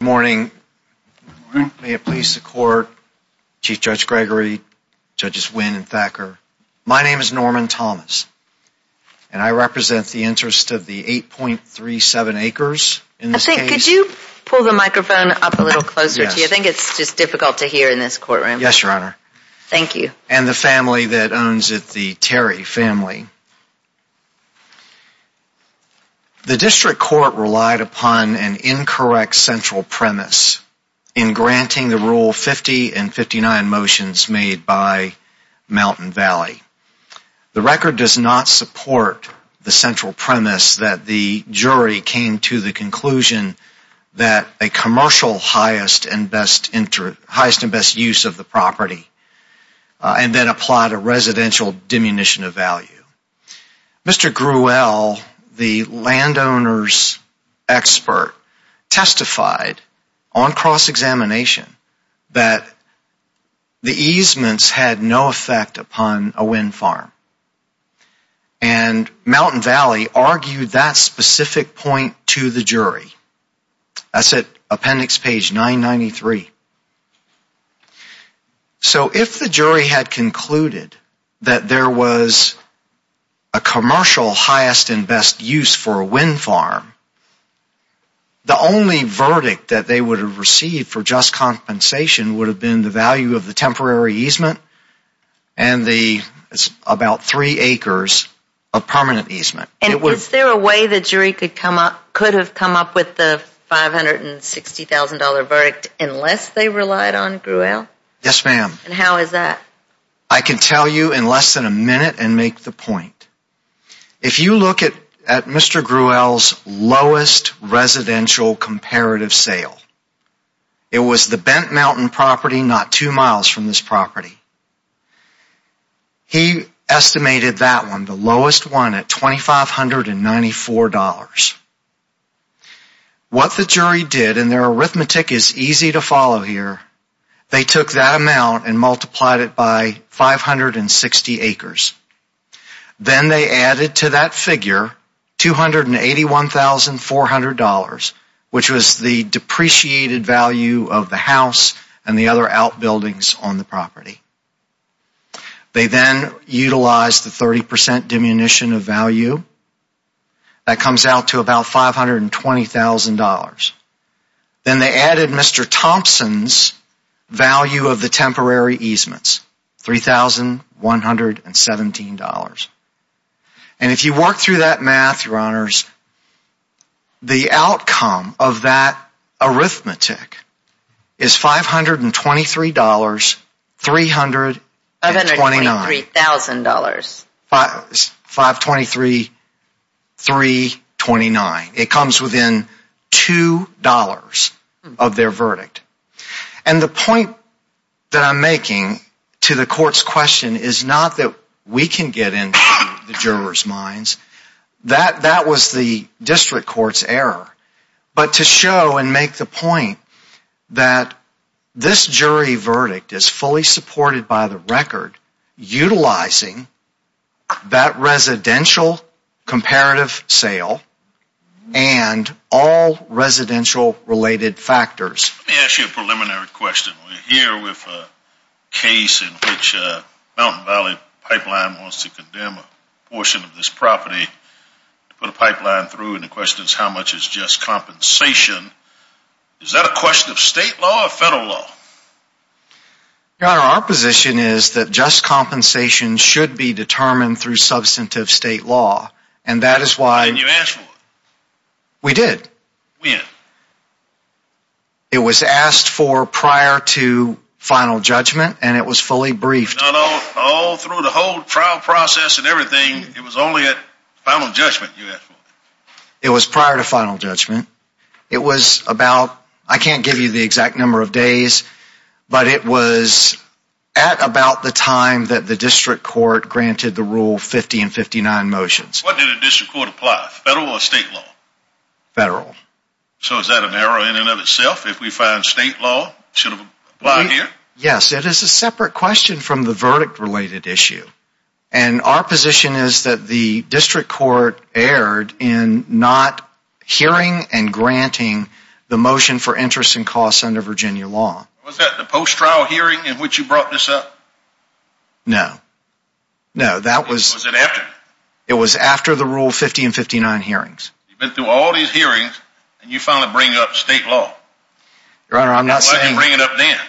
Good morning. May it please the Court, Chief Judge Gregory, Judges Winn and Thacker. My name is Norman Thomas, and I represent the interest of the 8.37 acres in this case. I think, could you pull the microphone up a little closer to you? I think it's just difficult to hear in this courtroom. Yes, Your Honor. Thank you. And the family that owns it, the Terry family. The District Court relied upon an incorrect central premise in granting the Rule 50 and 59 motions made by Mountain Valley. The record does not support the central premise that the jury came to the conclusion that a commercial highest and best use of the property, and then applied a residential diminution of value. Mr. Gruel, the landowner's expert, testified on cross-examination that the easements had no effect upon a wind farm. And Mountain Valley argued that specific point to the jury. That's at appendix page 993. So if the jury had concluded that there was a commercial highest and best use for a wind farm, the only verdict that they would have received for just compensation would have been the value of the temporary easement and the about three acres of permanent easement. And is there a way the jury could come up, could have come up with the $560,000 verdict unless they relied on Gruel? Yes, ma'am. And how is that? I can tell you in less than a minute and make the point. If you look at Mr. Gruel's lowest residential comparative sale, it was the Bent Mountain property not two miles from this property. He estimated that one, the lowest one, at $2,594. What the jury did, and their arithmetic is easy to follow here, they took that amount and multiplied it by 560 acres. Then they added to that figure $281,400, which was the depreciated value of the house and the other outbuildings on the property. They then utilized the 30% diminution of value. That comes out to about $520,000. Then they added Mr. Thompson's value of the temporary easements, $3,117. And if you work through that math, Your Honors, the outcome of that arithmetic is $523,329. It comes within $2 of their verdict. And the point that I'm making to the court's question is not that we can get into the jurors' minds. That was the district court's error. But to show and make the point that this jury verdict is fully supported by the record utilizing that residential comparative sale and all residential related factors. Let me ask you a preliminary question. We're here with a case in which Mountain Valley Pipeline wants to condemn a portion of this property to put a pipeline through. And the question is, how much is just compensation? Is that a question of state law or federal law? Your Honor, our position is that just compensation should be determined through substantive state law. And that is why we did. When? It was asked for prior to final judgment and it was fully briefed. All through the whole trial process and everything, it was only at final judgment you asked for? It was prior to final judgment. It was about, I can't give you the exact number of days, but it was at about the time that the district court granted the rule 50 and 59 motions. What did the district court apply, federal or state law? Federal. So is that an error in and of itself if we find state law should have applied here? Yes, it is a separate question from the verdict related issue. And our position is that the district court erred in not hearing and granting the motion for interest and costs under Virginia law. Was that the post trial hearing in which you brought this up? No, no, that was. Was it after? It was after the rule 50 and 59 hearings. You've been through all these hearings and you finally bring up state law. Your Honor, I'm not saying. Why didn't you bring it up then?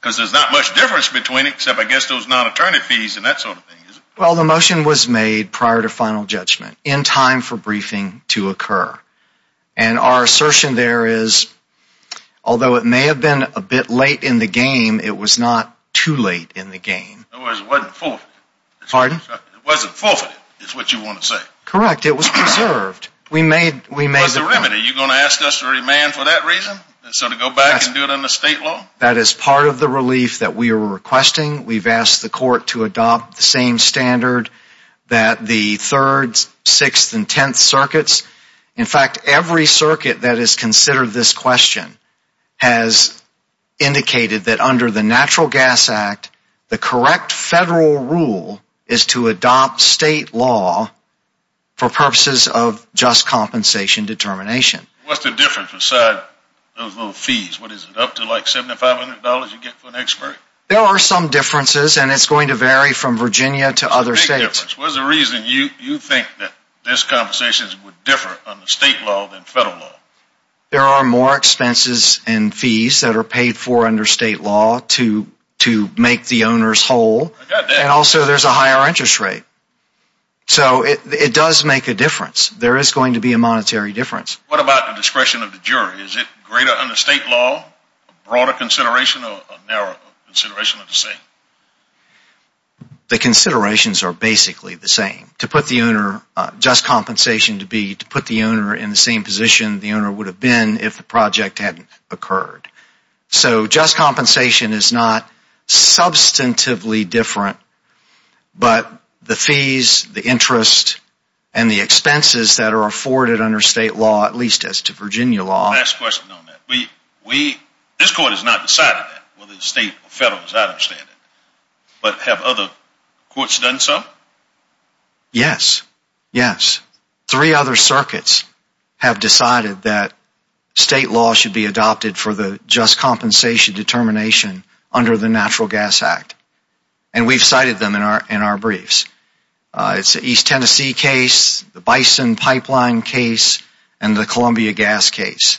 Because there's not much difference between it except I guess those non-attorney fees and that sort of thing. Well the motion was made prior to final judgment in time for briefing to occur. And our assertion there is, although it may have been a bit late in the game, it was not too late in the game. So it wasn't forfeited is what you want to say? Correct. It was preserved. We made the remedy. Are you going to ask us to remand for that reason and sort of go back and do it under state law? That is part of the relief that we are requesting. We've asked the court to adopt the same standard that the third, sixth, and tenth circuits. In fact, every circuit that has considered this question has indicated that under the Natural Gas Act, the correct federal rule is to adopt state law for purposes of just compensation determination. What's the difference besides those little fees? What is it, up to like $7,500 you get for an expert? There are some differences and it's going to vary from Virginia to other states. What's the big difference? What's the reason you think that these compensations would differ under state law than federal law? There are more expenses and fees that are paid for under state law to make the owners whole and also there's a higher interest rate. So it does make a difference. There is going to be a monetary difference. What about the discretion of the jury? Is it greater under state law, a broader consideration or a narrower consideration of the same? The considerations are basically the same. To put the owner, just compensation to be to put the owner in the same position the owner would have been if the project hadn't occurred. So just compensation is not substantively different, but the fees, the interest, and the expenses that are afforded under state law, at least as to Virginia law Last question on that. This court has not decided that, whether it's state or federal, as I understand it. But have other courts done so? Yes. Yes. Three other circuits have decided that state law should be adopted for the just compensation determination under the Natural Gas Act. And we've cited them in our briefs. It's the East Tennessee case, the Bison Pipeline case, and the Columbia Gas case.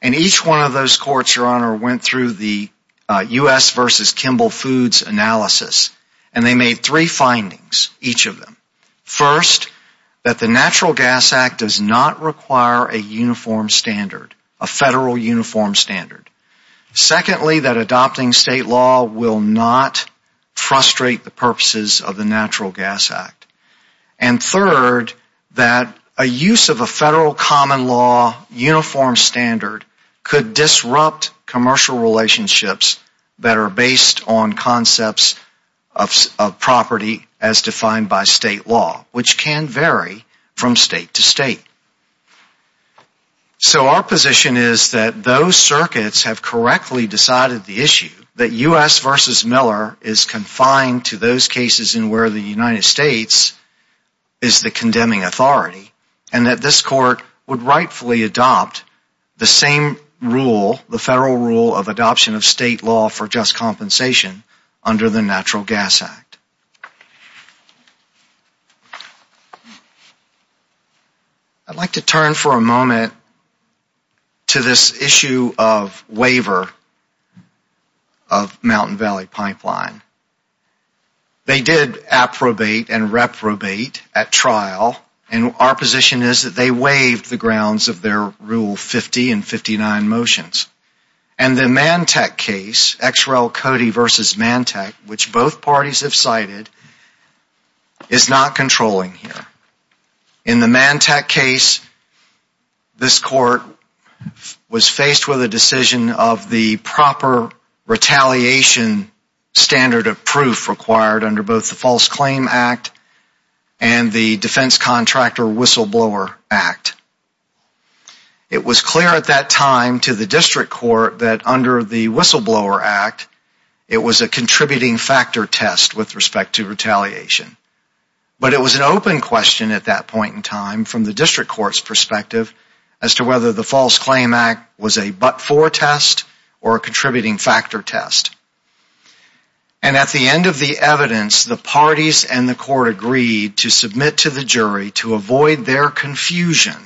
And each one of those courts, Your Honor, went through the U.S. versus Kimball Foods analysis. And they made three findings, each of them. First, that the Natural Gas Act does not require a uniform standard, a federal uniform standard. Secondly, that adopting state law will not frustrate the purposes of the Natural Gas Act. And third, that a use of a federal common law uniform standard could disrupt commercial relationships that are based on concepts of property as defined by state law, which can vary from state to state. So our position is that those circuits have correctly decided the issue. That U.S. versus Miller is confined to those cases in where the United States is the condemning authority. And that this court would rightfully adopt the same rule, the federal rule of adoption of state law for just compensation under the Natural Gas Act. I'd like to turn for a moment to this issue of waiver of Mountain Valley Pipeline. They did approbate and reprobate at trial, and our position is that they waived the grounds of their Rule 50 and 59 motions. And the Mantec case, XRL Cody versus Mantec, which both parties have cited, is not controlling here. In the Mantec case, this court was faced with a decision of the proper retaliation standard of proof required under both the False Claim Act and the Defense Contractor Whistleblower Act. It was clear at that time to the district court that under the Whistleblower Act, it was a contributing factor test with respect to retaliation. But it was an open question at that point in time from the district court's perspective as to whether the False Claim Act was a but-for test or a contributing factor test. And at the end of the evidence, the parties and the court agreed to submit to the jury to avoid their confusion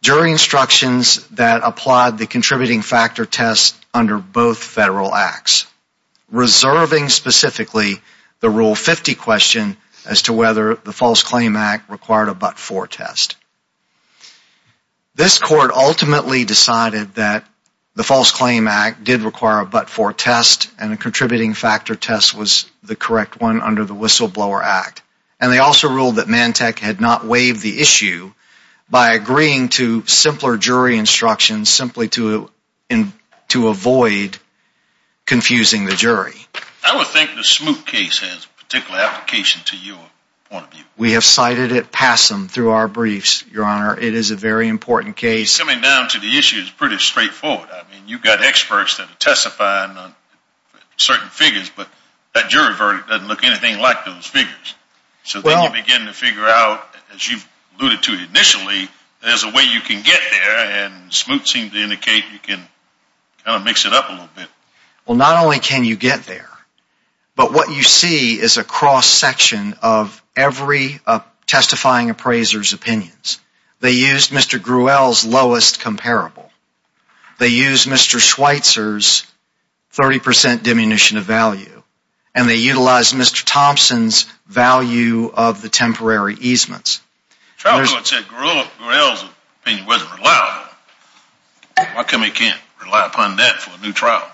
during instructions that applied the contributing factor test under both federal acts, reserving specifically the Rule 50 question as to whether the False Claim Act required a but-for test. This court ultimately decided that the False Claim Act did require a but-for test and a contributing factor test was the correct one under the Whistleblower Act. And they also ruled that Mantec had not waived the issue by agreeing to simpler jury instructions simply to avoid confusing the jury. I would think the Smoot case has a particular application to your point of view. We have cited it passum through our briefs, Your Honor. It is a very important case. Coming down to the issue is pretty straightforward. I mean, you've got experts that are testifying on certain figures, but that jury verdict doesn't look anything like those figures. So then you begin to figure out, as you alluded to initially, there's a way you can get there, and Smoot seemed to indicate you can kind of mix it up a little bit. Well, not only can you get there, but what you see is a cross-section of every testifying appraiser's opinions. They used Mr. Gruelle's lowest comparable. They used Mr. Schweitzer's 30 percent diminution of value. And they utilized Mr. Thompson's value of the temporary easements. The trial court said Mr. Gruelle's opinion wasn't reliable. Why come they can't rely upon that for a new trial?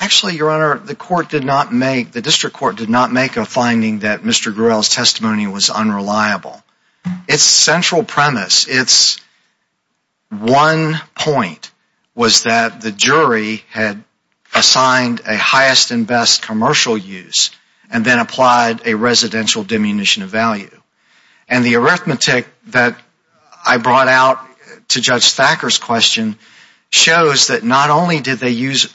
Actually, Your Honor, the court did not make, the district court did not make a finding that Mr. Gruelle's testimony was unreliable. Its central premise, its one point was that the jury had assigned a highest and best commercial use and then applied a residential diminution of value. And the arithmetic that I brought out to Judge Thacker's question shows that not only did they use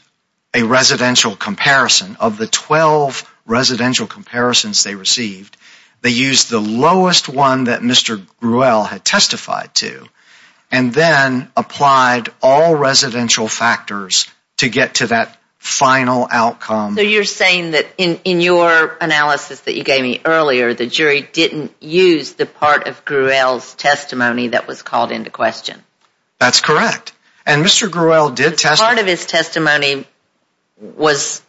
a residential comparison, of the 12 residential comparisons they received, they used the lowest one that Mr. Gruelle had testified to and then applied all residential factors to get to that final outcome. So you're saying that in your analysis that you gave me earlier, the jury didn't use the part of Gruelle's testimony that was called into question. That's correct. And Mr. Gruelle did testify. Part of his testimony was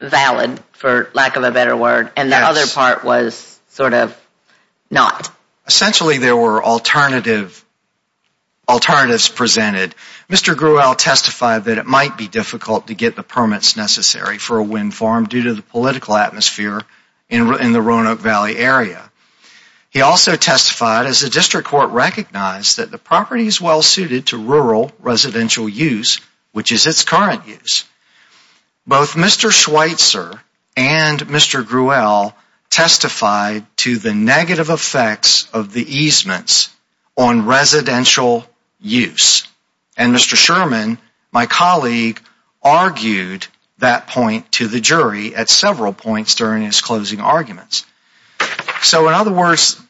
valid, for lack of a better word, and the other part was sort of not. Essentially, there were alternatives presented. Mr. Gruelle testified that it might be difficult to get the permits necessary for a wind farm due to the political atmosphere in the Roanoke Valley area. He also testified, as the district court recognized, that the property is well suited to rural residential use, which is its current use. Both Mr. Schweitzer and Mr. Gruelle testified to the negative effects of the easements on residential use. And Mr. Sherman, my colleague, argued that point to the jury at several points during his closing arguments. So in other words,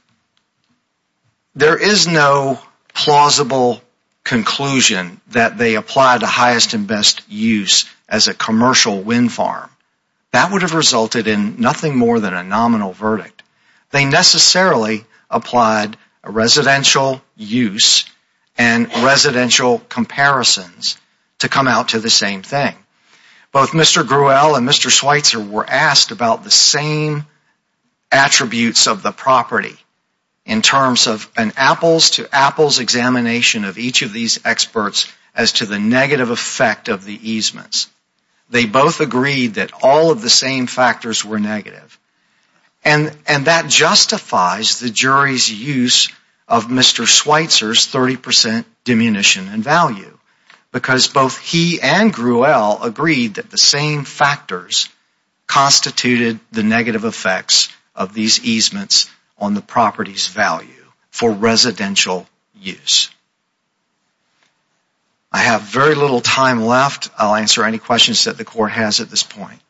there is no plausible conclusion that they applied the highest and best use as a commercial wind farm. That would have resulted in nothing more than a nominal verdict. They necessarily applied residential use and residential comparisons to come out to the same thing. Both Mr. Gruelle and Mr. Schweitzer were asked about the same attributes of the property, in terms of an apples-to-apples examination of each of these experts as to the negative effect of the easements. They both agreed that all of the same factors were negative. And that justifies the jury's use of Mr. Schweitzer's 30% diminution in value. Because both he and Gruelle agreed that the same factors constituted the negative effects of these easements on the property's value for residential use. I have very little time left. I'll answer any questions that the court has at this point.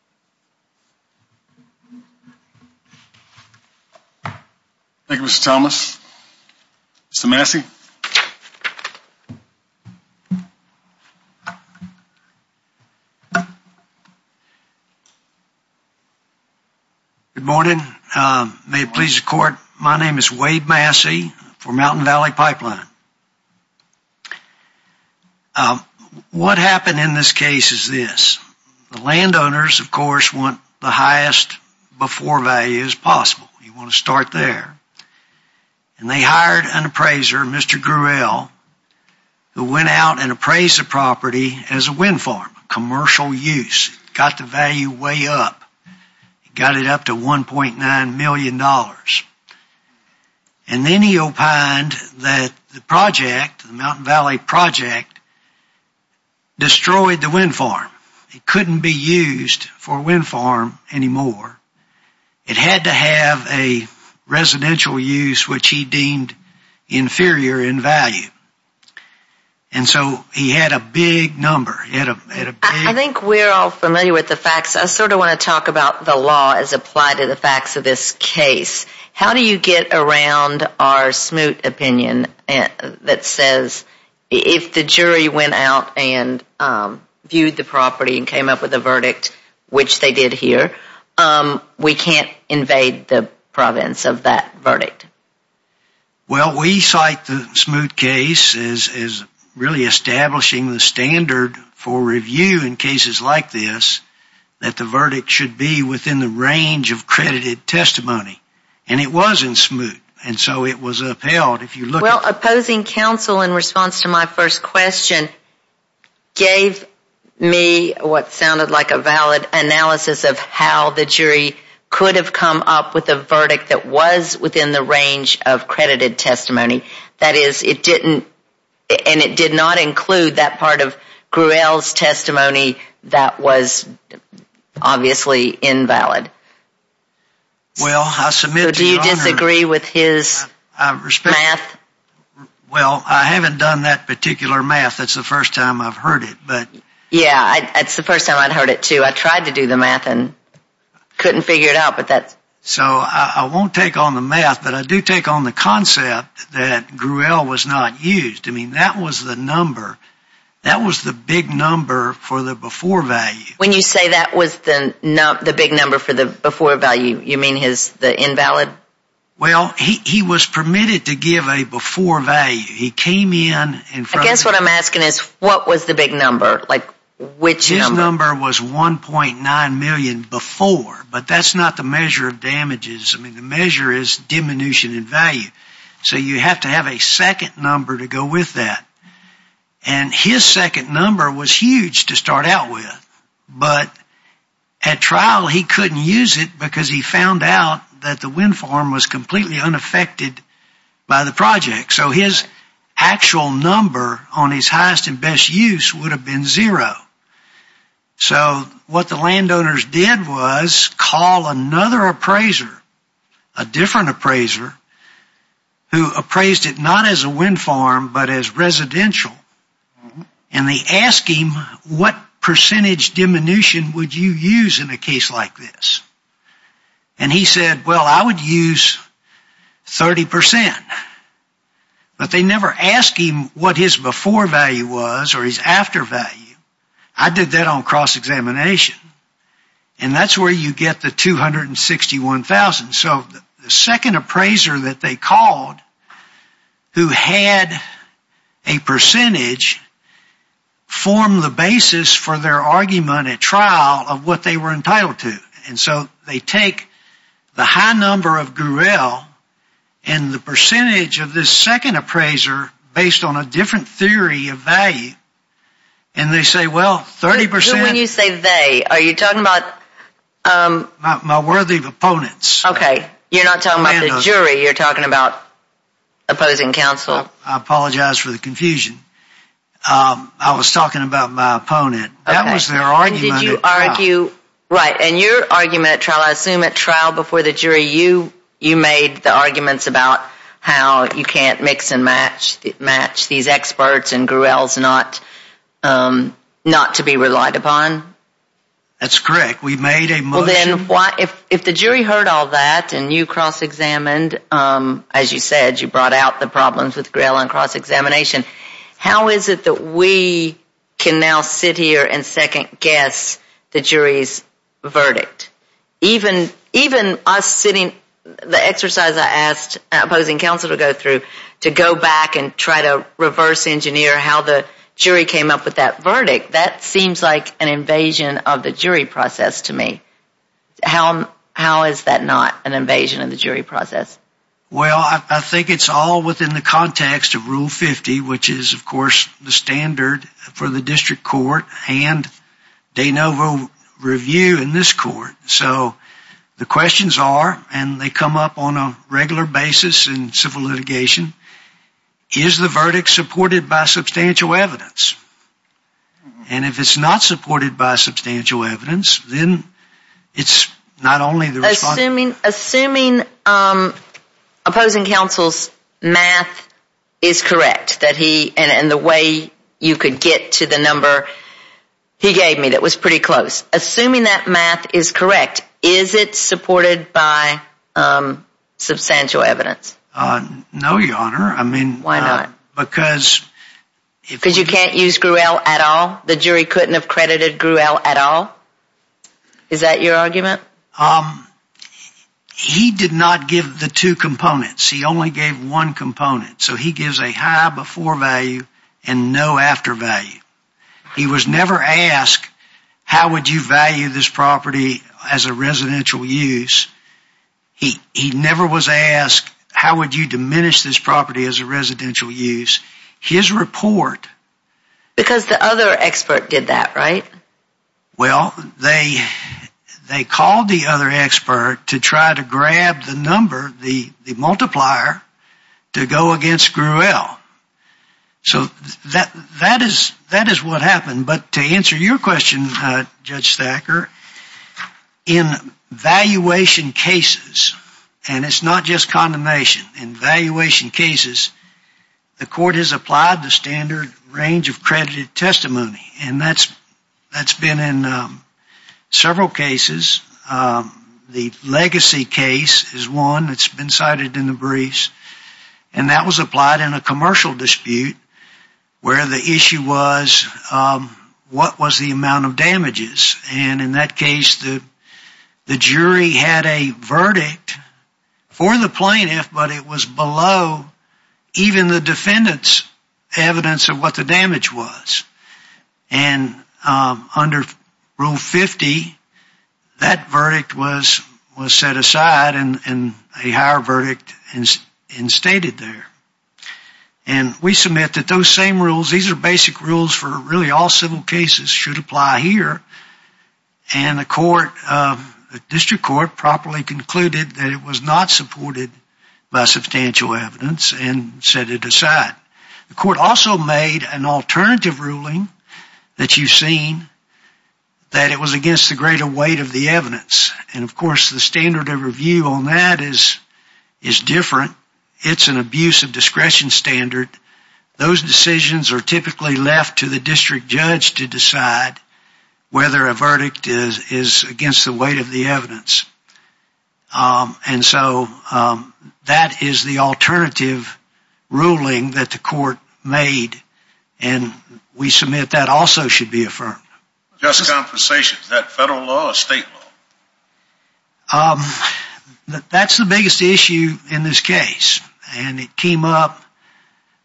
Thank you, Mr. Thomas. Mr. Massey? Good morning. May it please the court, my name is Wade Massey for Mountain Valley Pipeline. What happened in this case is this. The landowners, of course, want the highest before value as possible. You want to start there. And they hired an appraiser, Mr. Gruelle, who went out and appraised the property as a wind farm, commercial use. Got the value way up. Got it up to $1.9 million. And then he opined that the project, the Mountain Valley project, destroyed the wind farm. It couldn't be used for a wind farm anymore. It had to have a residential use which he deemed inferior in value. And so he had a big number. I think we're all familiar with the facts. I sort of want to talk about the law as applied to the facts of this case. How do you get around our smooth opinion that says if the jury went out and viewed the property and came up with a verdict, which they did here, we can't invade the province of that verdict? Well, we cite the smooth case as really establishing the standard for review in cases like this, that the verdict should be within the range of credited testimony. And it wasn't smooth. And so it was upheld. Well, opposing counsel in response to my first question gave me what sounded like a valid analysis of how the jury could have come up with a verdict that was within the range of credited testimony. That is, it didn't, and it did not include that part of Gruelle's testimony that was obviously invalid. So do you disagree with his math? Well, I haven't done that particular math. That's the first time I've heard it. Yeah, that's the first time I've heard it, too. I tried to do the math and couldn't figure it out. So I won't take on the math, but I do take on the concept that Gruelle was not used. I mean, that was the number. That was the big number for the before value. When you say that was the big number for the before value, you mean the invalid? Well, he was permitted to give a before value. He came in. I guess what I'm asking is, what was the big number? Like, which number? His number was 1.9 million before, but that's not the measure of damages. I mean, the measure is diminution in value. So you have to have a second number to go with that. And his second number was huge to start out with, but at trial he couldn't use it because he found out that the wind farm was completely unaffected by the project. So his actual number on his highest and best use would have been zero. So what the landowners did was call another appraiser, a different appraiser, who appraised it not as a wind farm, but as residential. And they asked him, what percentage diminution would you use in a case like this? And he said, well, I would use 30%. But they never asked him what his before value was or his after value. I did that on cross-examination. And that's where you get the 261,000. So the second appraiser that they called, who had a percentage, formed the basis for their argument at trial of what they were entitled to. And so they take the high number of Gruelle and the percentage of this second appraiser based on a different theory of value, and they say, well, 30%... Who do you say they? Are you talking about... My worthy opponents. Okay. You're not talking about the jury. You're talking about opposing counsel. I apologize for the confusion. I was talking about my opponent. That was their argument at trial. Right. And your argument at trial, I assume at trial before the jury, you made the arguments about how you can't mix and match these experts and Gruelle's not to be relied upon? That's correct. We made a motion... Well, then, if the jury heard all that and you cross-examined, as you said, you brought out the problems with Gruelle on cross-examination, how is it that we can now sit here and second-guess the jury's verdict? Even us sitting, the exercise I asked opposing counsel to go through, to go back and try to reverse-engineer how the jury came up with that verdict, that seems like an invasion of the jury process to me. How is that not an invasion of the jury process? Well, I think it's all within the context of Rule 50, which is, of course, the standard for the district court and de novo review in this court. So the questions are, and they come up on a regular basis in civil litigation, is the verdict supported by substantial evidence? And if it's not supported by substantial evidence, then it's not only the response... Assuming opposing counsel's math is correct, and the way you could get to the number he gave me that was pretty close, assuming that math is correct, is it supported by substantial evidence? No, Your Honor. Why not? Because... Because you can't use Gruelle at all? The jury couldn't have credited Gruelle at all? Is that your argument? He did not give the two components. He only gave one component. So he gives a high before value and no after value. He was never asked, how would you value this property as a residential use? He never was asked, how would you diminish this property as a residential use? His report... Because the other expert did that, right? Well, they called the other expert to try to grab the number, the multiplier, to go against Gruelle. So that is what happened. But to answer your question, Judge Thacker, in valuation cases, and it's not just condemnation, in valuation cases, the court has applied the standard range of credited testimony. And that's been in several cases. The Legacy case is one that's been cited in the briefs, and that was applied in a commercial dispute, where the issue was, what was the amount of damages? And in that case, the jury had a verdict for the plaintiff, but it was below even the defendant's evidence of what the damage was. And under Rule 50, that verdict was set aside, and a higher verdict instated there. And we submit that those same rules, these are basic rules for really all civil cases, should apply here. And the court, the district court, properly concluded that it was not supported by substantial evidence, and set it aside. The court also made an alternative ruling that you've seen, that it was against the greater weight of the evidence. And of course, the standard of review on that is different. It's an abuse of discretion standard. Those decisions are typically left to the district judge to decide whether a verdict is against the weight of the evidence. And so, that is the alternative ruling that the court made. And we submit that also should be affirmed. Just a conversation. Is that federal law or state law? That's the biggest issue in this case. And it came up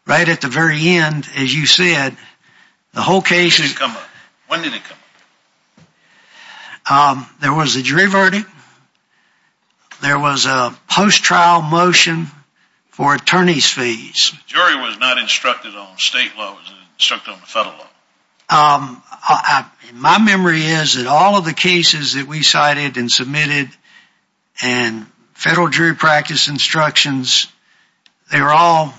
right at the very end, as you said. When did it come up? There was a jury verdict. There was a post-trial motion for attorney's fees. The jury was not instructed on state law. It was instructed on the federal law. My memory is that all of the cases that we cited and submitted, and federal jury practice instructions, they were all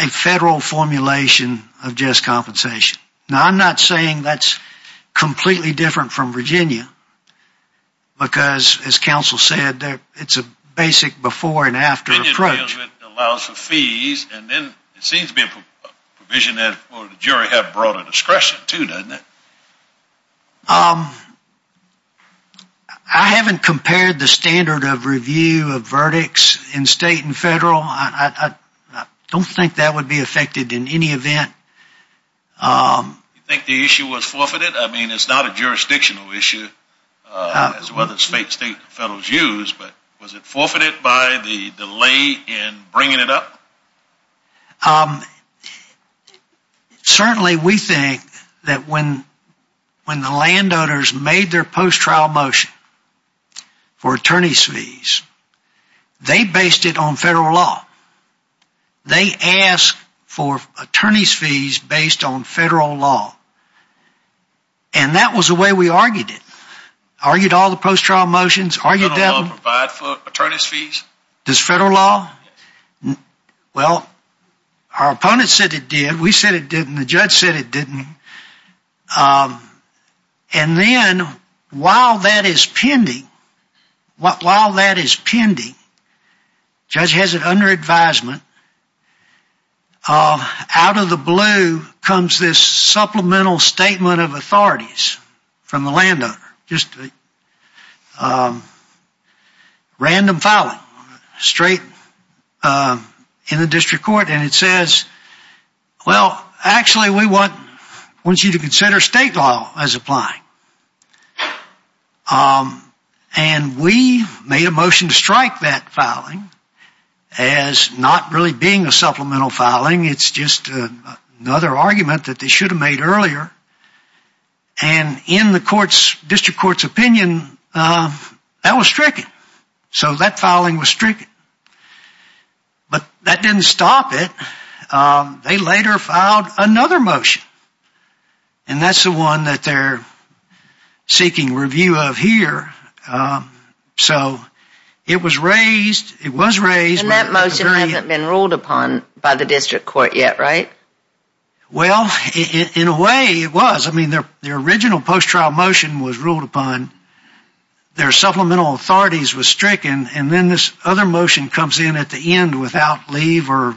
a federal formulation of just compensation. Now, I'm not saying that's completely different from Virginia. Because, as counsel said, it's a basic before and after approach. It allows for fees, and then it seems to be a provision that the jury had broader discretion to, doesn't it? I haven't compared the standard of review of verdicts in state and federal. I don't think that would be affected in any event. Do you think the issue was forfeited? I mean, it's not a jurisdictional issue, as well as state and federal's use. Was it forfeited by the delay in bringing it up? Certainly, we think that when the landowners made their post-trial motion for attorney's fees, they based it on federal law. They asked for attorney's fees based on federal law. And that was the way we argued it. Does federal law provide for attorney's fees? Does federal law? Well, our opponents said it did. We said it didn't. The judge said it didn't. And then, while that is pending, the judge has it under advisement, out of the blue comes this supplemental statement of authorities from the landowner, just a random filing, straight in the district court. And it says, well, actually, we want you to consider state law as applying. And we made a motion to strike that filing as not really being a supplemental filing. It's just another argument that they should have made earlier. And in the district court's opinion, that was stricken. So that filing was stricken. But that didn't stop it. They later filed another motion. And that's the one that they're seeking review of here. So it was raised. And that motion hasn't been ruled upon by the district court yet, right? Well, in a way, it was. I mean, their original post-trial motion was ruled upon. Their supplemental authorities was stricken. And then this other motion comes in at the end without leave or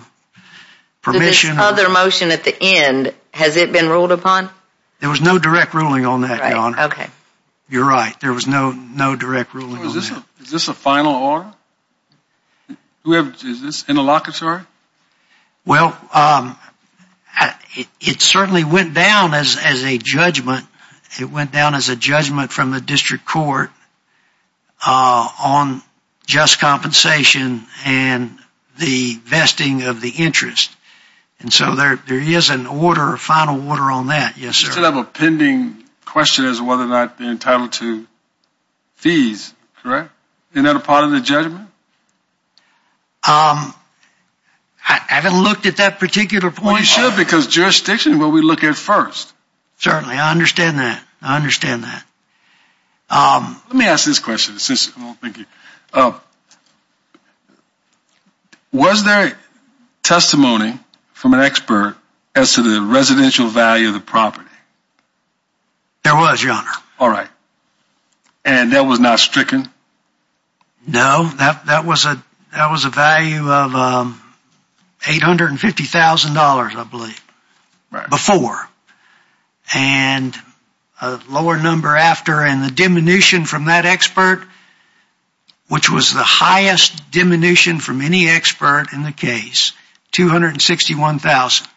permission. So this other motion at the end, has it been ruled upon? There was no direct ruling on that, Your Honor. You're right. There was no direct ruling on that. Is this a final order? Is this interlocutory? Well, it certainly went down as a judgment. It went down as a judgment from the district court on just compensation and the vesting of the interest. And so there is an order, a final order on that, yes, sir. You said you have a pending question as to whether or not they're entitled to fees, correct? Isn't that a part of the judgment? I haven't looked at that particular point. Well, you should, because jurisdiction is what we look at first. Certainly, I understand that. I understand that. Let me ask this question. Was there testimony from an expert as to the residential value of the property? There was, Your Honor. All right. And that was not stricken? No, that was a value of $850,000, I believe, before. And a lower number after. And the diminution from that expert, which was the highest diminution from any expert in the case, $261,000.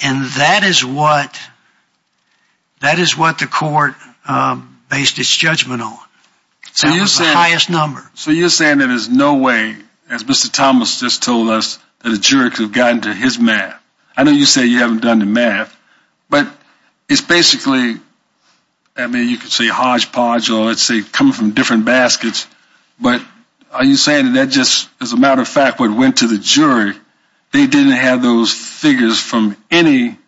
And that is what the court based its judgment on. That was the highest number. So you're saying there is no way, as Mr. Thomas just told us, that a juror could have gotten to his math. I know you say you haven't done the math. But it's basically, I mean, you could say hodgepodge or it's coming from different baskets. But are you saying that just, as a matter of fact, what went to the jury, they didn't have those figures from any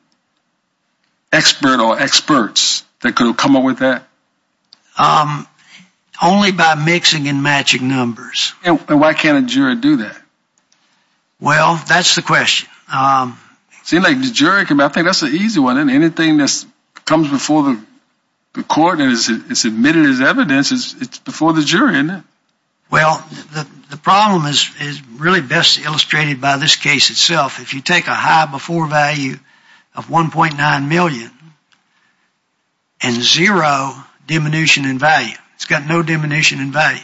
expert or experts that could have come up with that? Only by mixing and matching numbers. And why can't a juror do that? Well, that's the question. It seems like the jury, I think that's an easy one. Anything that comes before the court and is admitted as evidence, it's before the jury, isn't it? Well, the problem is really best illustrated by this case itself. If you take a high before value of $1.9 million and zero diminution in value. It's got no diminution in value.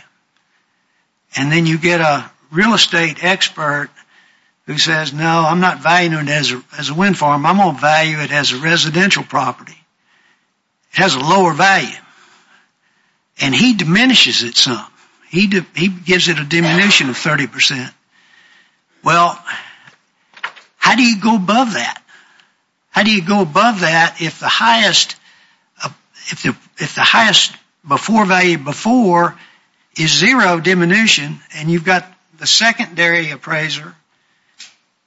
And then you get a real estate expert who says, no, I'm not valuing it as a wind farm. I'm going to value it as a residential property. It has a lower value. And he diminishes it some. He gives it a diminution of 30%. Well, how do you go above that? How do you go above that if the highest before value before is zero diminution and you've got the secondary appraiser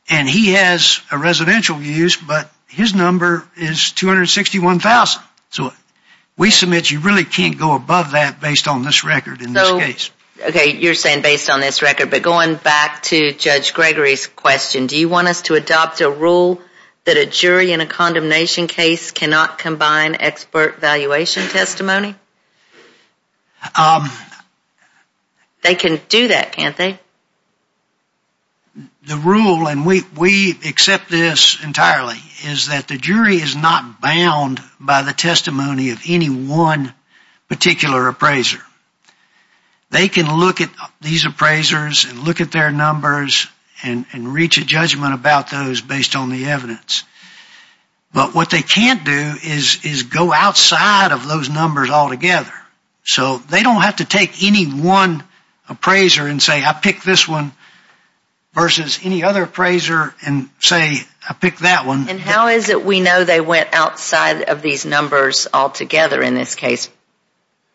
and he has a residential use but his number is 261,000. So we submit you really can't go above that based on this record in this case. Okay, you're saying based on this record. But going back to Judge Gregory's question, do you want us to adopt a rule that a jury in a condemnation case cannot combine expert valuation testimony? They can do that, can't they? The rule, and we accept this entirely, is that the jury is not bound by the testimony of any one particular appraiser. They can look at these appraisers and look at their numbers and reach a judgment about those based on the evidence. But what they can't do is go outside of those numbers altogether. So they don't have to take any one appraiser and say I picked this one versus any other appraiser and say I picked that one. And how is it we know they went outside of these numbers altogether in this case?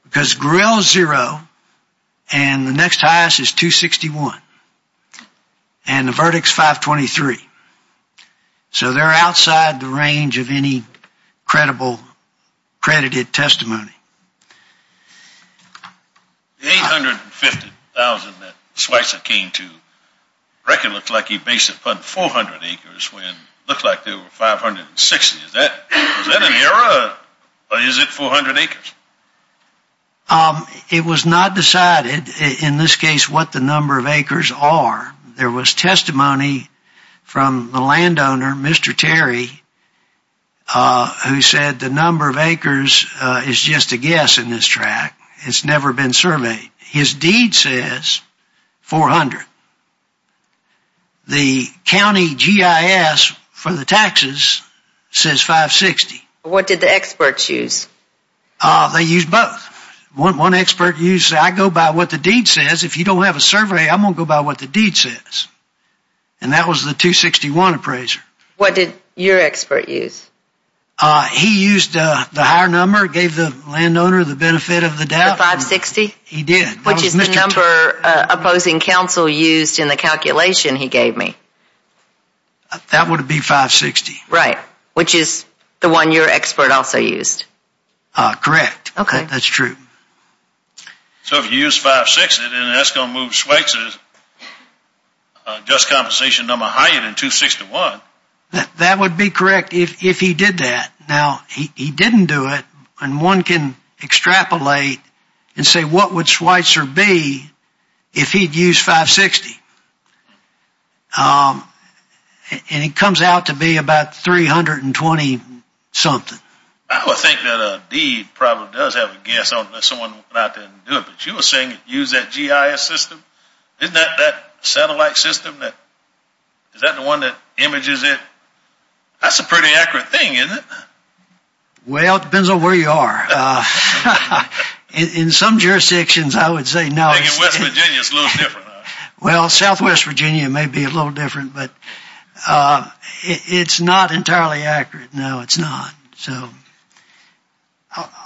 Because grill is zero and the next highest is 261 and the verdict is 523. So they're outside the range of any credible credited testimony. The 850,000 that Schweitzer came to, the record looks like he based it upon 400 acres when it looked like there were 560. Is that an error or is it 400 acres? It was not decided in this case what the number of acres are. There was testimony from the landowner, Mr. Terry, who said the number of acres is just a guess in this track. It's never been surveyed. His deed says 400. The county GIS for the taxes says 560. What did the experts use? They used both. One expert used I go by what the deed says. If you don't have a survey, I'm going to go by what the deed says. And that was the 261 appraiser. What did your expert use? He used the higher number, gave the landowner the benefit of the doubt. The 560? He did. Which is the number opposing counsel used in the calculation he gave me. That would be 560. Right. Which is the one your expert also used. Correct. Okay. That's true. So if you use 560, then that's going to move Schweitzer's just compensation number higher than 261. That would be correct if he did that. Now, he didn't do it. And one can extrapolate and say what would Schweitzer be if he had used 560? And it comes out to be about 320 something. I would think that a deed probably does have a guess on someone went out there and did it. But you were saying it used that GIS system? Isn't that that satellite system? Is that the one that images it? That's a pretty accurate thing, isn't it? Well, it depends on where you are. In some jurisdictions, I would say no. I think in West Virginia it's a little different. Well, Southwest Virginia may be a little different. But it's not entirely accurate. No, it's not. So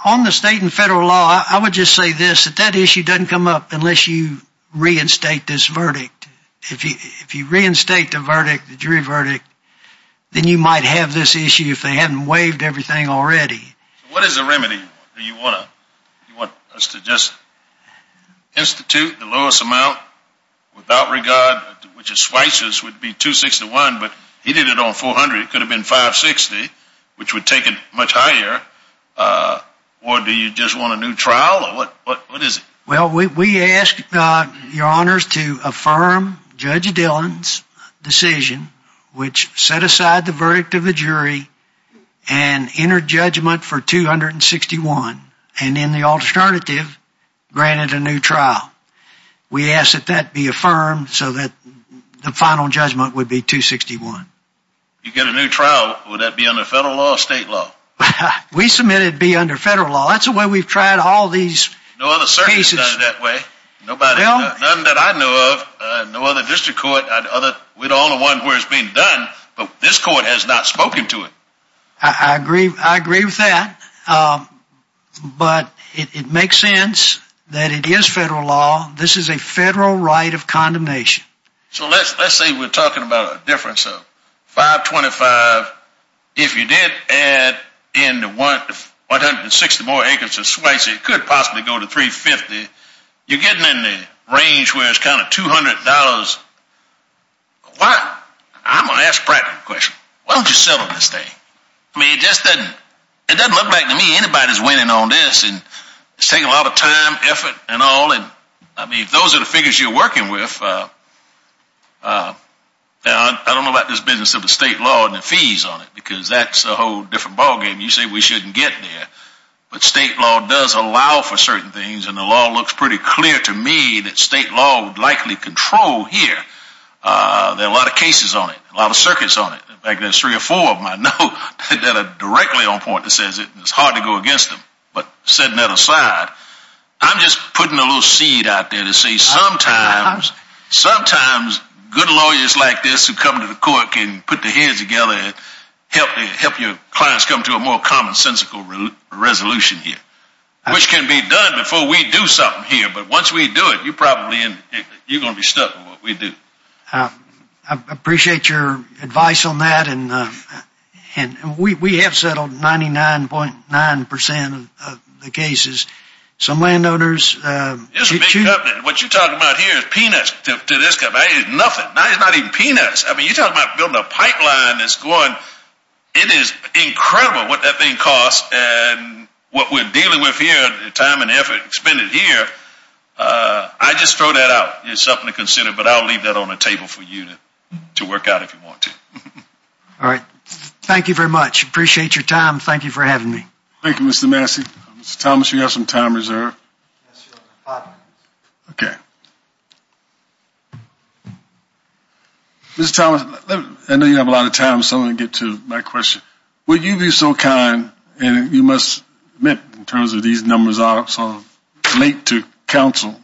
on the state and federal law, I would just say this. That issue doesn't come up unless you reinstate this verdict. If you reinstate the verdict, the jury verdict, then you might have this issue if they haven't waived everything already. What is the remedy? Do you want us to just institute the lowest amount without regard, which at Schweitzer's would be 261, but he did it on 400. It could have been 560, which would take it much higher. Or do you just want a new trial? What is it? Well, we ask your honors to affirm Judge Dillon's decision, which set aside the verdict of the jury and entered judgment for 261, and in the alternative, granted a new trial. We ask that that be affirmed so that the final judgment would be 261. If you get a new trial, would that be under federal law or state law? We submit it to be under federal law. That's the way we've tried all these cases. No other circuit has done it that way. None that I know of, no other district court, we're the only one where it's being done, but this court has not spoken to it. I agree with that, but it makes sense that it is federal law. This is a federal right of condemnation. So let's say we're talking about a difference of 525. If you did add in the 160 more acres of swipes, it could possibly go to 350. You're getting in the range where it's kind of $200 a lot. I'm going to ask a practical question. Why don't you settle this thing? I mean, it just doesn't look like to me anybody's winning on this. It's taking a lot of time, effort, and all. I mean, if those are the figures you're working with, I don't know about this business of the state law and the fees on it, because that's a whole different ballgame. You say we shouldn't get there, but state law does allow for certain things, and the law looks pretty clear to me that state law would likely control here. There are a lot of cases on it, a lot of circuits on it. In fact, there's three or four of them I know that are directly on point that says it's hard to go against them. But setting that aside, I'm just putting a little seed out there to say sometimes good lawyers like this who come to the court can put their heads together and help your clients come to a more commonsensical resolution here, which can be done before we do something here. But once we do it, you're going to be stuck on what we do. I appreciate your advice on that, and we have settled 99.9% of the cases. This is a big company. What you're talking about here is peanuts to this company. It's nothing. It's not even peanuts. I mean, you're talking about building a pipeline that's going. It is incredible what that thing costs and what we're dealing with here, the time and effort expended here. I just throw that out. It's something to consider, but I'll leave that on the table for you to work out if you want to. All right. Thank you very much. Appreciate your time. Thank you for having me. Thank you, Mr. Massey. Mr. Thomas, do you have some time reserved? Yes, sir. Five minutes. Okay. Mr. Thomas, I know you don't have a lot of time, so I'm going to get to my question. Would you be so kind, and you must admit in terms of these numbers are sort of late to counsel,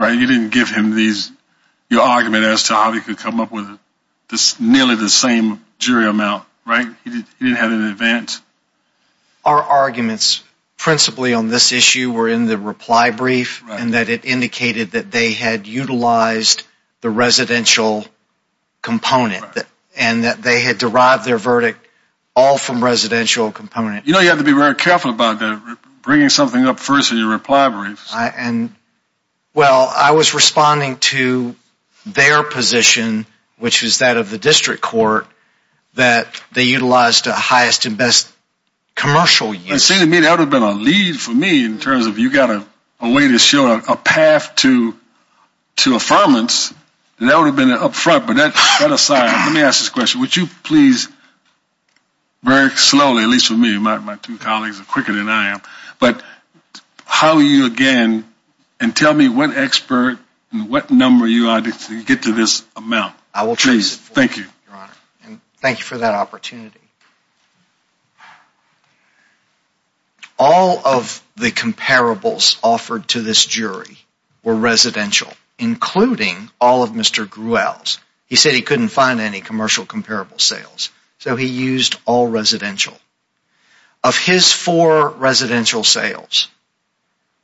right? You didn't give him your argument as to how he could come up with nearly the same jury amount, right? He didn't have an advance. Our arguments principally on this issue were in the reply brief and that it indicated that they had utilized the residential component and that they had derived their verdict all from residential components. You know, you have to be very careful about bringing something up first in your reply brief. Well, I was responding to their position, which is that of the district court, that they utilized the highest and best commercial units. It seemed to me that would have been a lead for me in terms of you've got a way to show a path to affirmance, and that would have been up front. But that aside, let me ask this question. Would you please very slowly, at least for me, my two colleagues are quicker than I am, but how you again and tell me what expert and what number you are to get to this amount? I will trace it for you, Your Honor. Thank you for that opportunity. All of the comparables offered to this jury were residential, including all of Mr. Grewell's. He said he couldn't find any commercial comparable sales, so he used all residential. Of his four residential sales,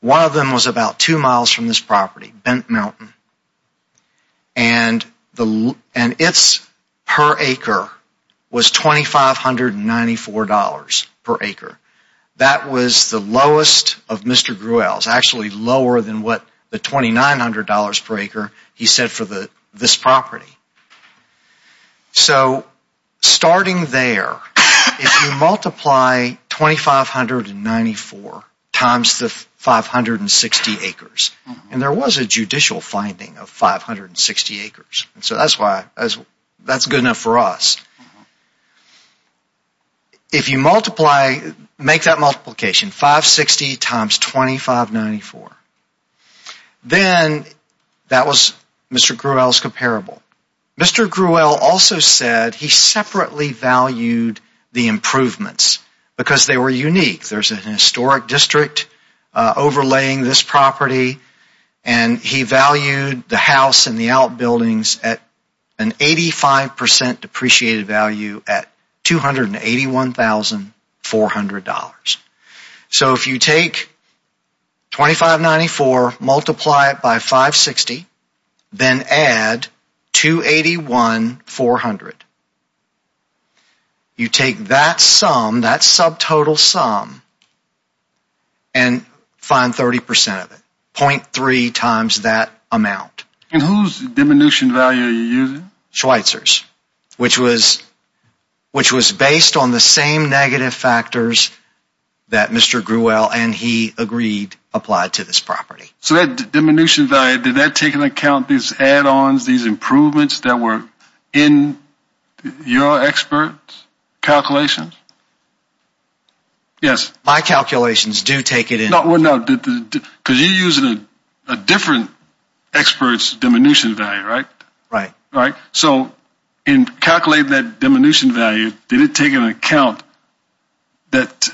one of them was about two miles from this property, Bent Mountain. And its per acre was $2,594 per acre. That was the lowest of Mr. Grewell's, actually lower than what the $2,900 per acre he said for this property. So starting there, if you multiply 2,594 times the 560 acres, and there was a judicial finding of 560 acres, so that's good enough for us. If you multiply, make that multiplication, 560 times 2,594, then that was Mr. Grewell's comparable. Mr. Grewell also said he separately valued the improvements because they were unique. There's an historic district overlaying this property, and he valued the house and the outbuildings at an 85% depreciated value at $281,400. So if you take 2,594, multiply it by 560, then add 281,400. You take that sum, that subtotal sum, and find 30% of it, 0.3 times that amount. And whose diminution value are you using? Schweitzer's, which was based on the same negative factors that Mr. Grewell and he agreed applied to this property. So that diminution value, did that take into account these add-ons, these improvements that were in your experts' calculations? Yes. My calculations do take it into account. Well, no, because you're using a different expert's diminution value, right? Right. So in calculating that diminution value, did it take into account that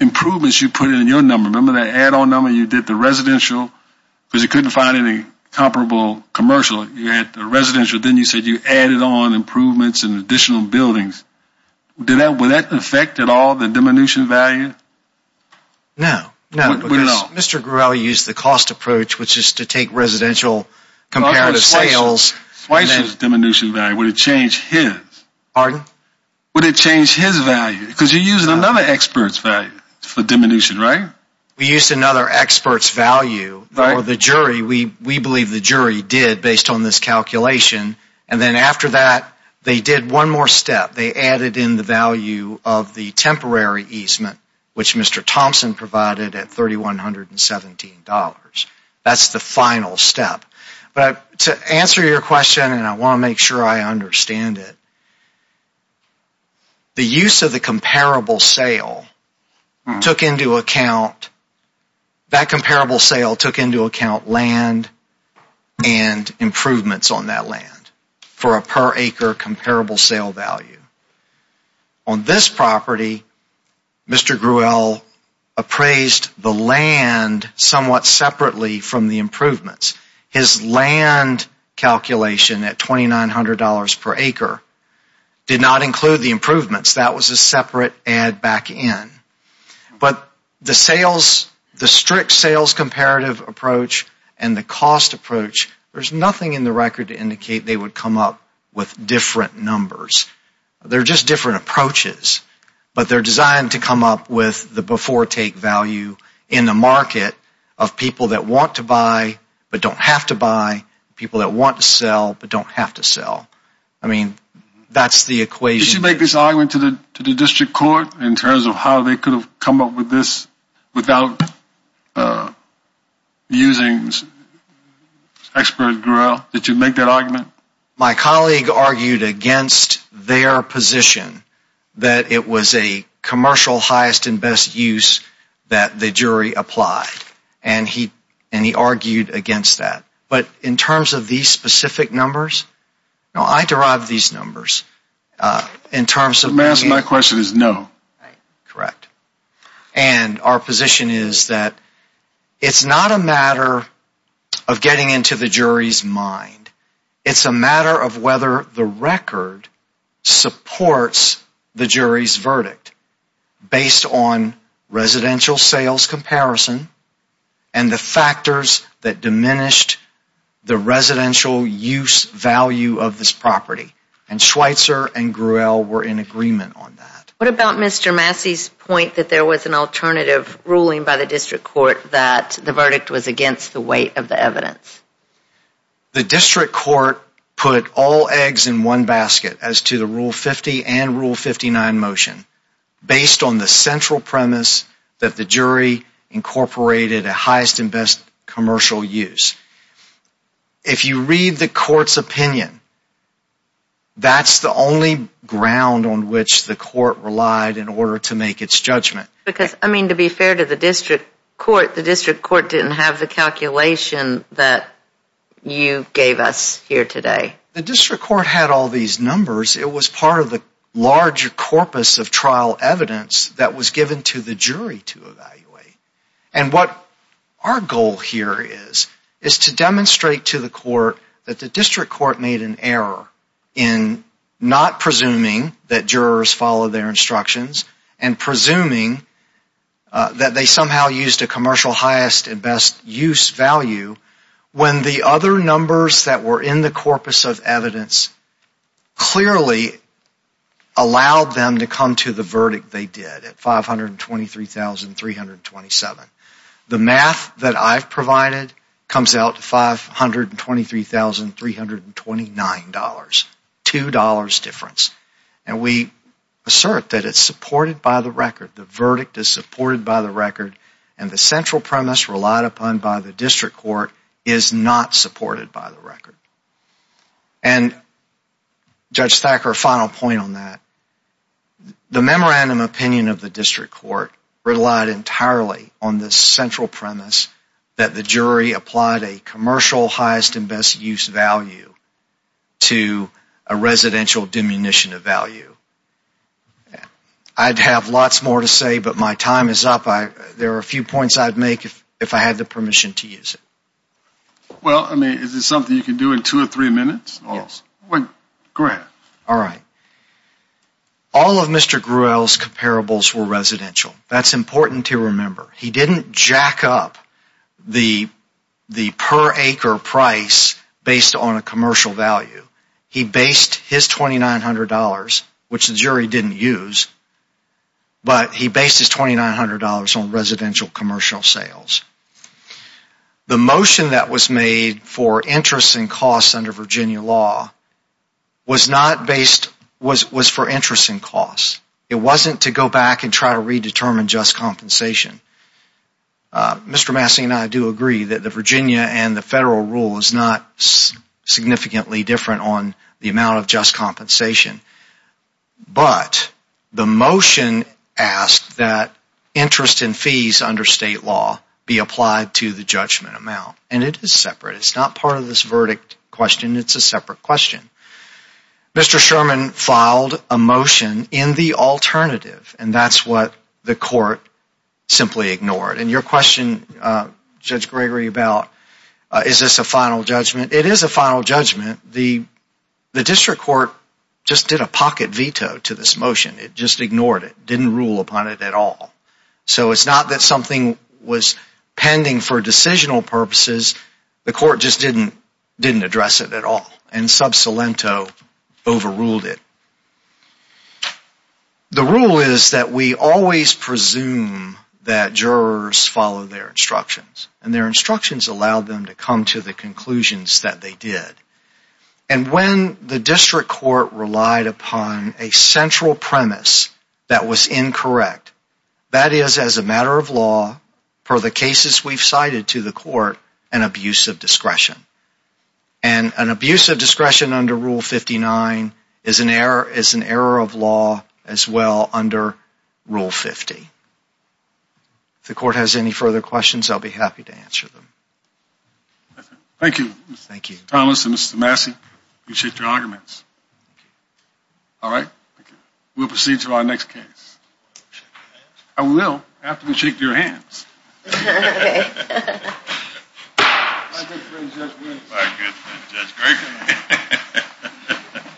improvements you put in your number, remember that add-on number you did the residential because you couldn't find any comparable commercial. You had the residential, then you said you added on improvements and additional buildings. Would that affect at all the diminution value? No. No, because Mr. Grewell used the cost approach, which is to take residential comparative sales. Schweitzer's diminution value, would it change his? Pardon? Would it change his value? Because you're using another expert's value for diminution, right? We used another expert's value for the jury. We believe the jury did based on this calculation. And then after that, they did one more step. They added in the value of the temporary easement, which Mr. Thompson provided at $3,117. That's the final step. But to answer your question, and I want to make sure I understand it, the use of the comparable sale took into account land and improvements on that land for a per acre comparable sale value. On this property, Mr. Grewell appraised the land somewhat separately from the improvements. His land calculation at $2,900 per acre did not include the improvements. That was a separate add back in. But the sales, the strict sales comparative approach and the cost approach, there's nothing in the record to indicate they would come up with different numbers. They're just different approaches, but they're designed to come up with the before take value in the market of people that want to buy but don't have to buy, people that want to sell but don't have to sell. I mean, that's the equation. Did you make this argument to the district court in terms of how they could have come up with this without using expert Grewell? Did you make that argument? My colleague argued against their position, that it was a commercial highest and best use that the jury applied. And he argued against that. But in terms of these specific numbers, I derived these numbers in terms of... My question is no. Correct. And our position is that it's not a matter of getting into the jury's mind. Based on residential sales comparison and the factors that diminished the residential use value of this property. And Schweitzer and Grewell were in agreement on that. What about Mr. Massey's point that there was an alternative ruling by the district court that the verdict was against the weight of the evidence? The district court put all eggs in one basket as to the Rule 50 and Rule 59 motion based on the central premise that the jury incorporated a highest and best commercial use. If you read the court's opinion, that's the only ground on which the court relied in order to make its judgment. Because, I mean, to be fair to the district court, the district court didn't have the calculation that you gave us here today. The district court had all these numbers. It was part of the larger corpus of trial evidence that was given to the jury to evaluate. And what our goal here is, is to demonstrate to the court that the district court made an error in not presuming that jurors followed their instructions and presuming that they somehow used a commercial highest and best use value when the other numbers that were in the corpus of evidence clearly allowed them to come to the verdict they did at $523,327. The math that I've provided comes out to $523,329, $2 difference. And we assert that it's supported by the record. The verdict is supported by the record. And the central premise relied upon by the district court is not supported by the record. And, Judge Thacker, a final point on that. The memorandum opinion of the district court relied entirely on the central premise that the jury applied a commercial highest and best use value to a residential diminution of value. I'd have lots more to say, but my time is up. There are a few points I'd make if I had the permission to use it. Well, I mean, is this something you can do in two or three minutes? Yes. Go ahead. All right. All of Mr. Gruel's comparables were residential. That's important to remember. He didn't jack up the per acre price based on a commercial value. He based his $2,900, which the jury didn't use, but he based his $2,900 on residential commercial sales. The motion that was made for interest and costs under Virginia law was for interest and costs. It wasn't to go back and try to redetermine just compensation. Mr. Massey and I do agree that the Virginia and the federal rule is not significantly different on the amount of just compensation. But the motion asked that interest and fees under state law be applied to the judgment amount. And it is separate. It's not part of this verdict question. It's a separate question. Mr. Sherman filed a motion in the alternative, and that's what the court simply ignored. And your question, Judge Gregory, about is this a final judgment, it is a final judgment. The district court just did a pocket veto to this motion. It just ignored it, didn't rule upon it at all. So it's not that something was pending for decisional purposes. The court just didn't address it at all, and sub salento overruled it. The rule is that we always presume that jurors follow their instructions, and their instructions allowed them to come to the conclusions that they did. And when the district court relied upon a central premise that was incorrect, that is, as a matter of law, per the cases we've cited to the court, an abuse of discretion. And an abuse of discretion under Rule 59 is an error of law as well under Rule 50. If the court has any further questions, I'll be happy to answer them. Thank you, Mr. Thomas and Mr. Massey. Appreciate your arguments. All right. We'll proceed to our next case. I will after we shake your hands. Okay. My good friend, Judge Griggs. My good friend, Judge Griggs.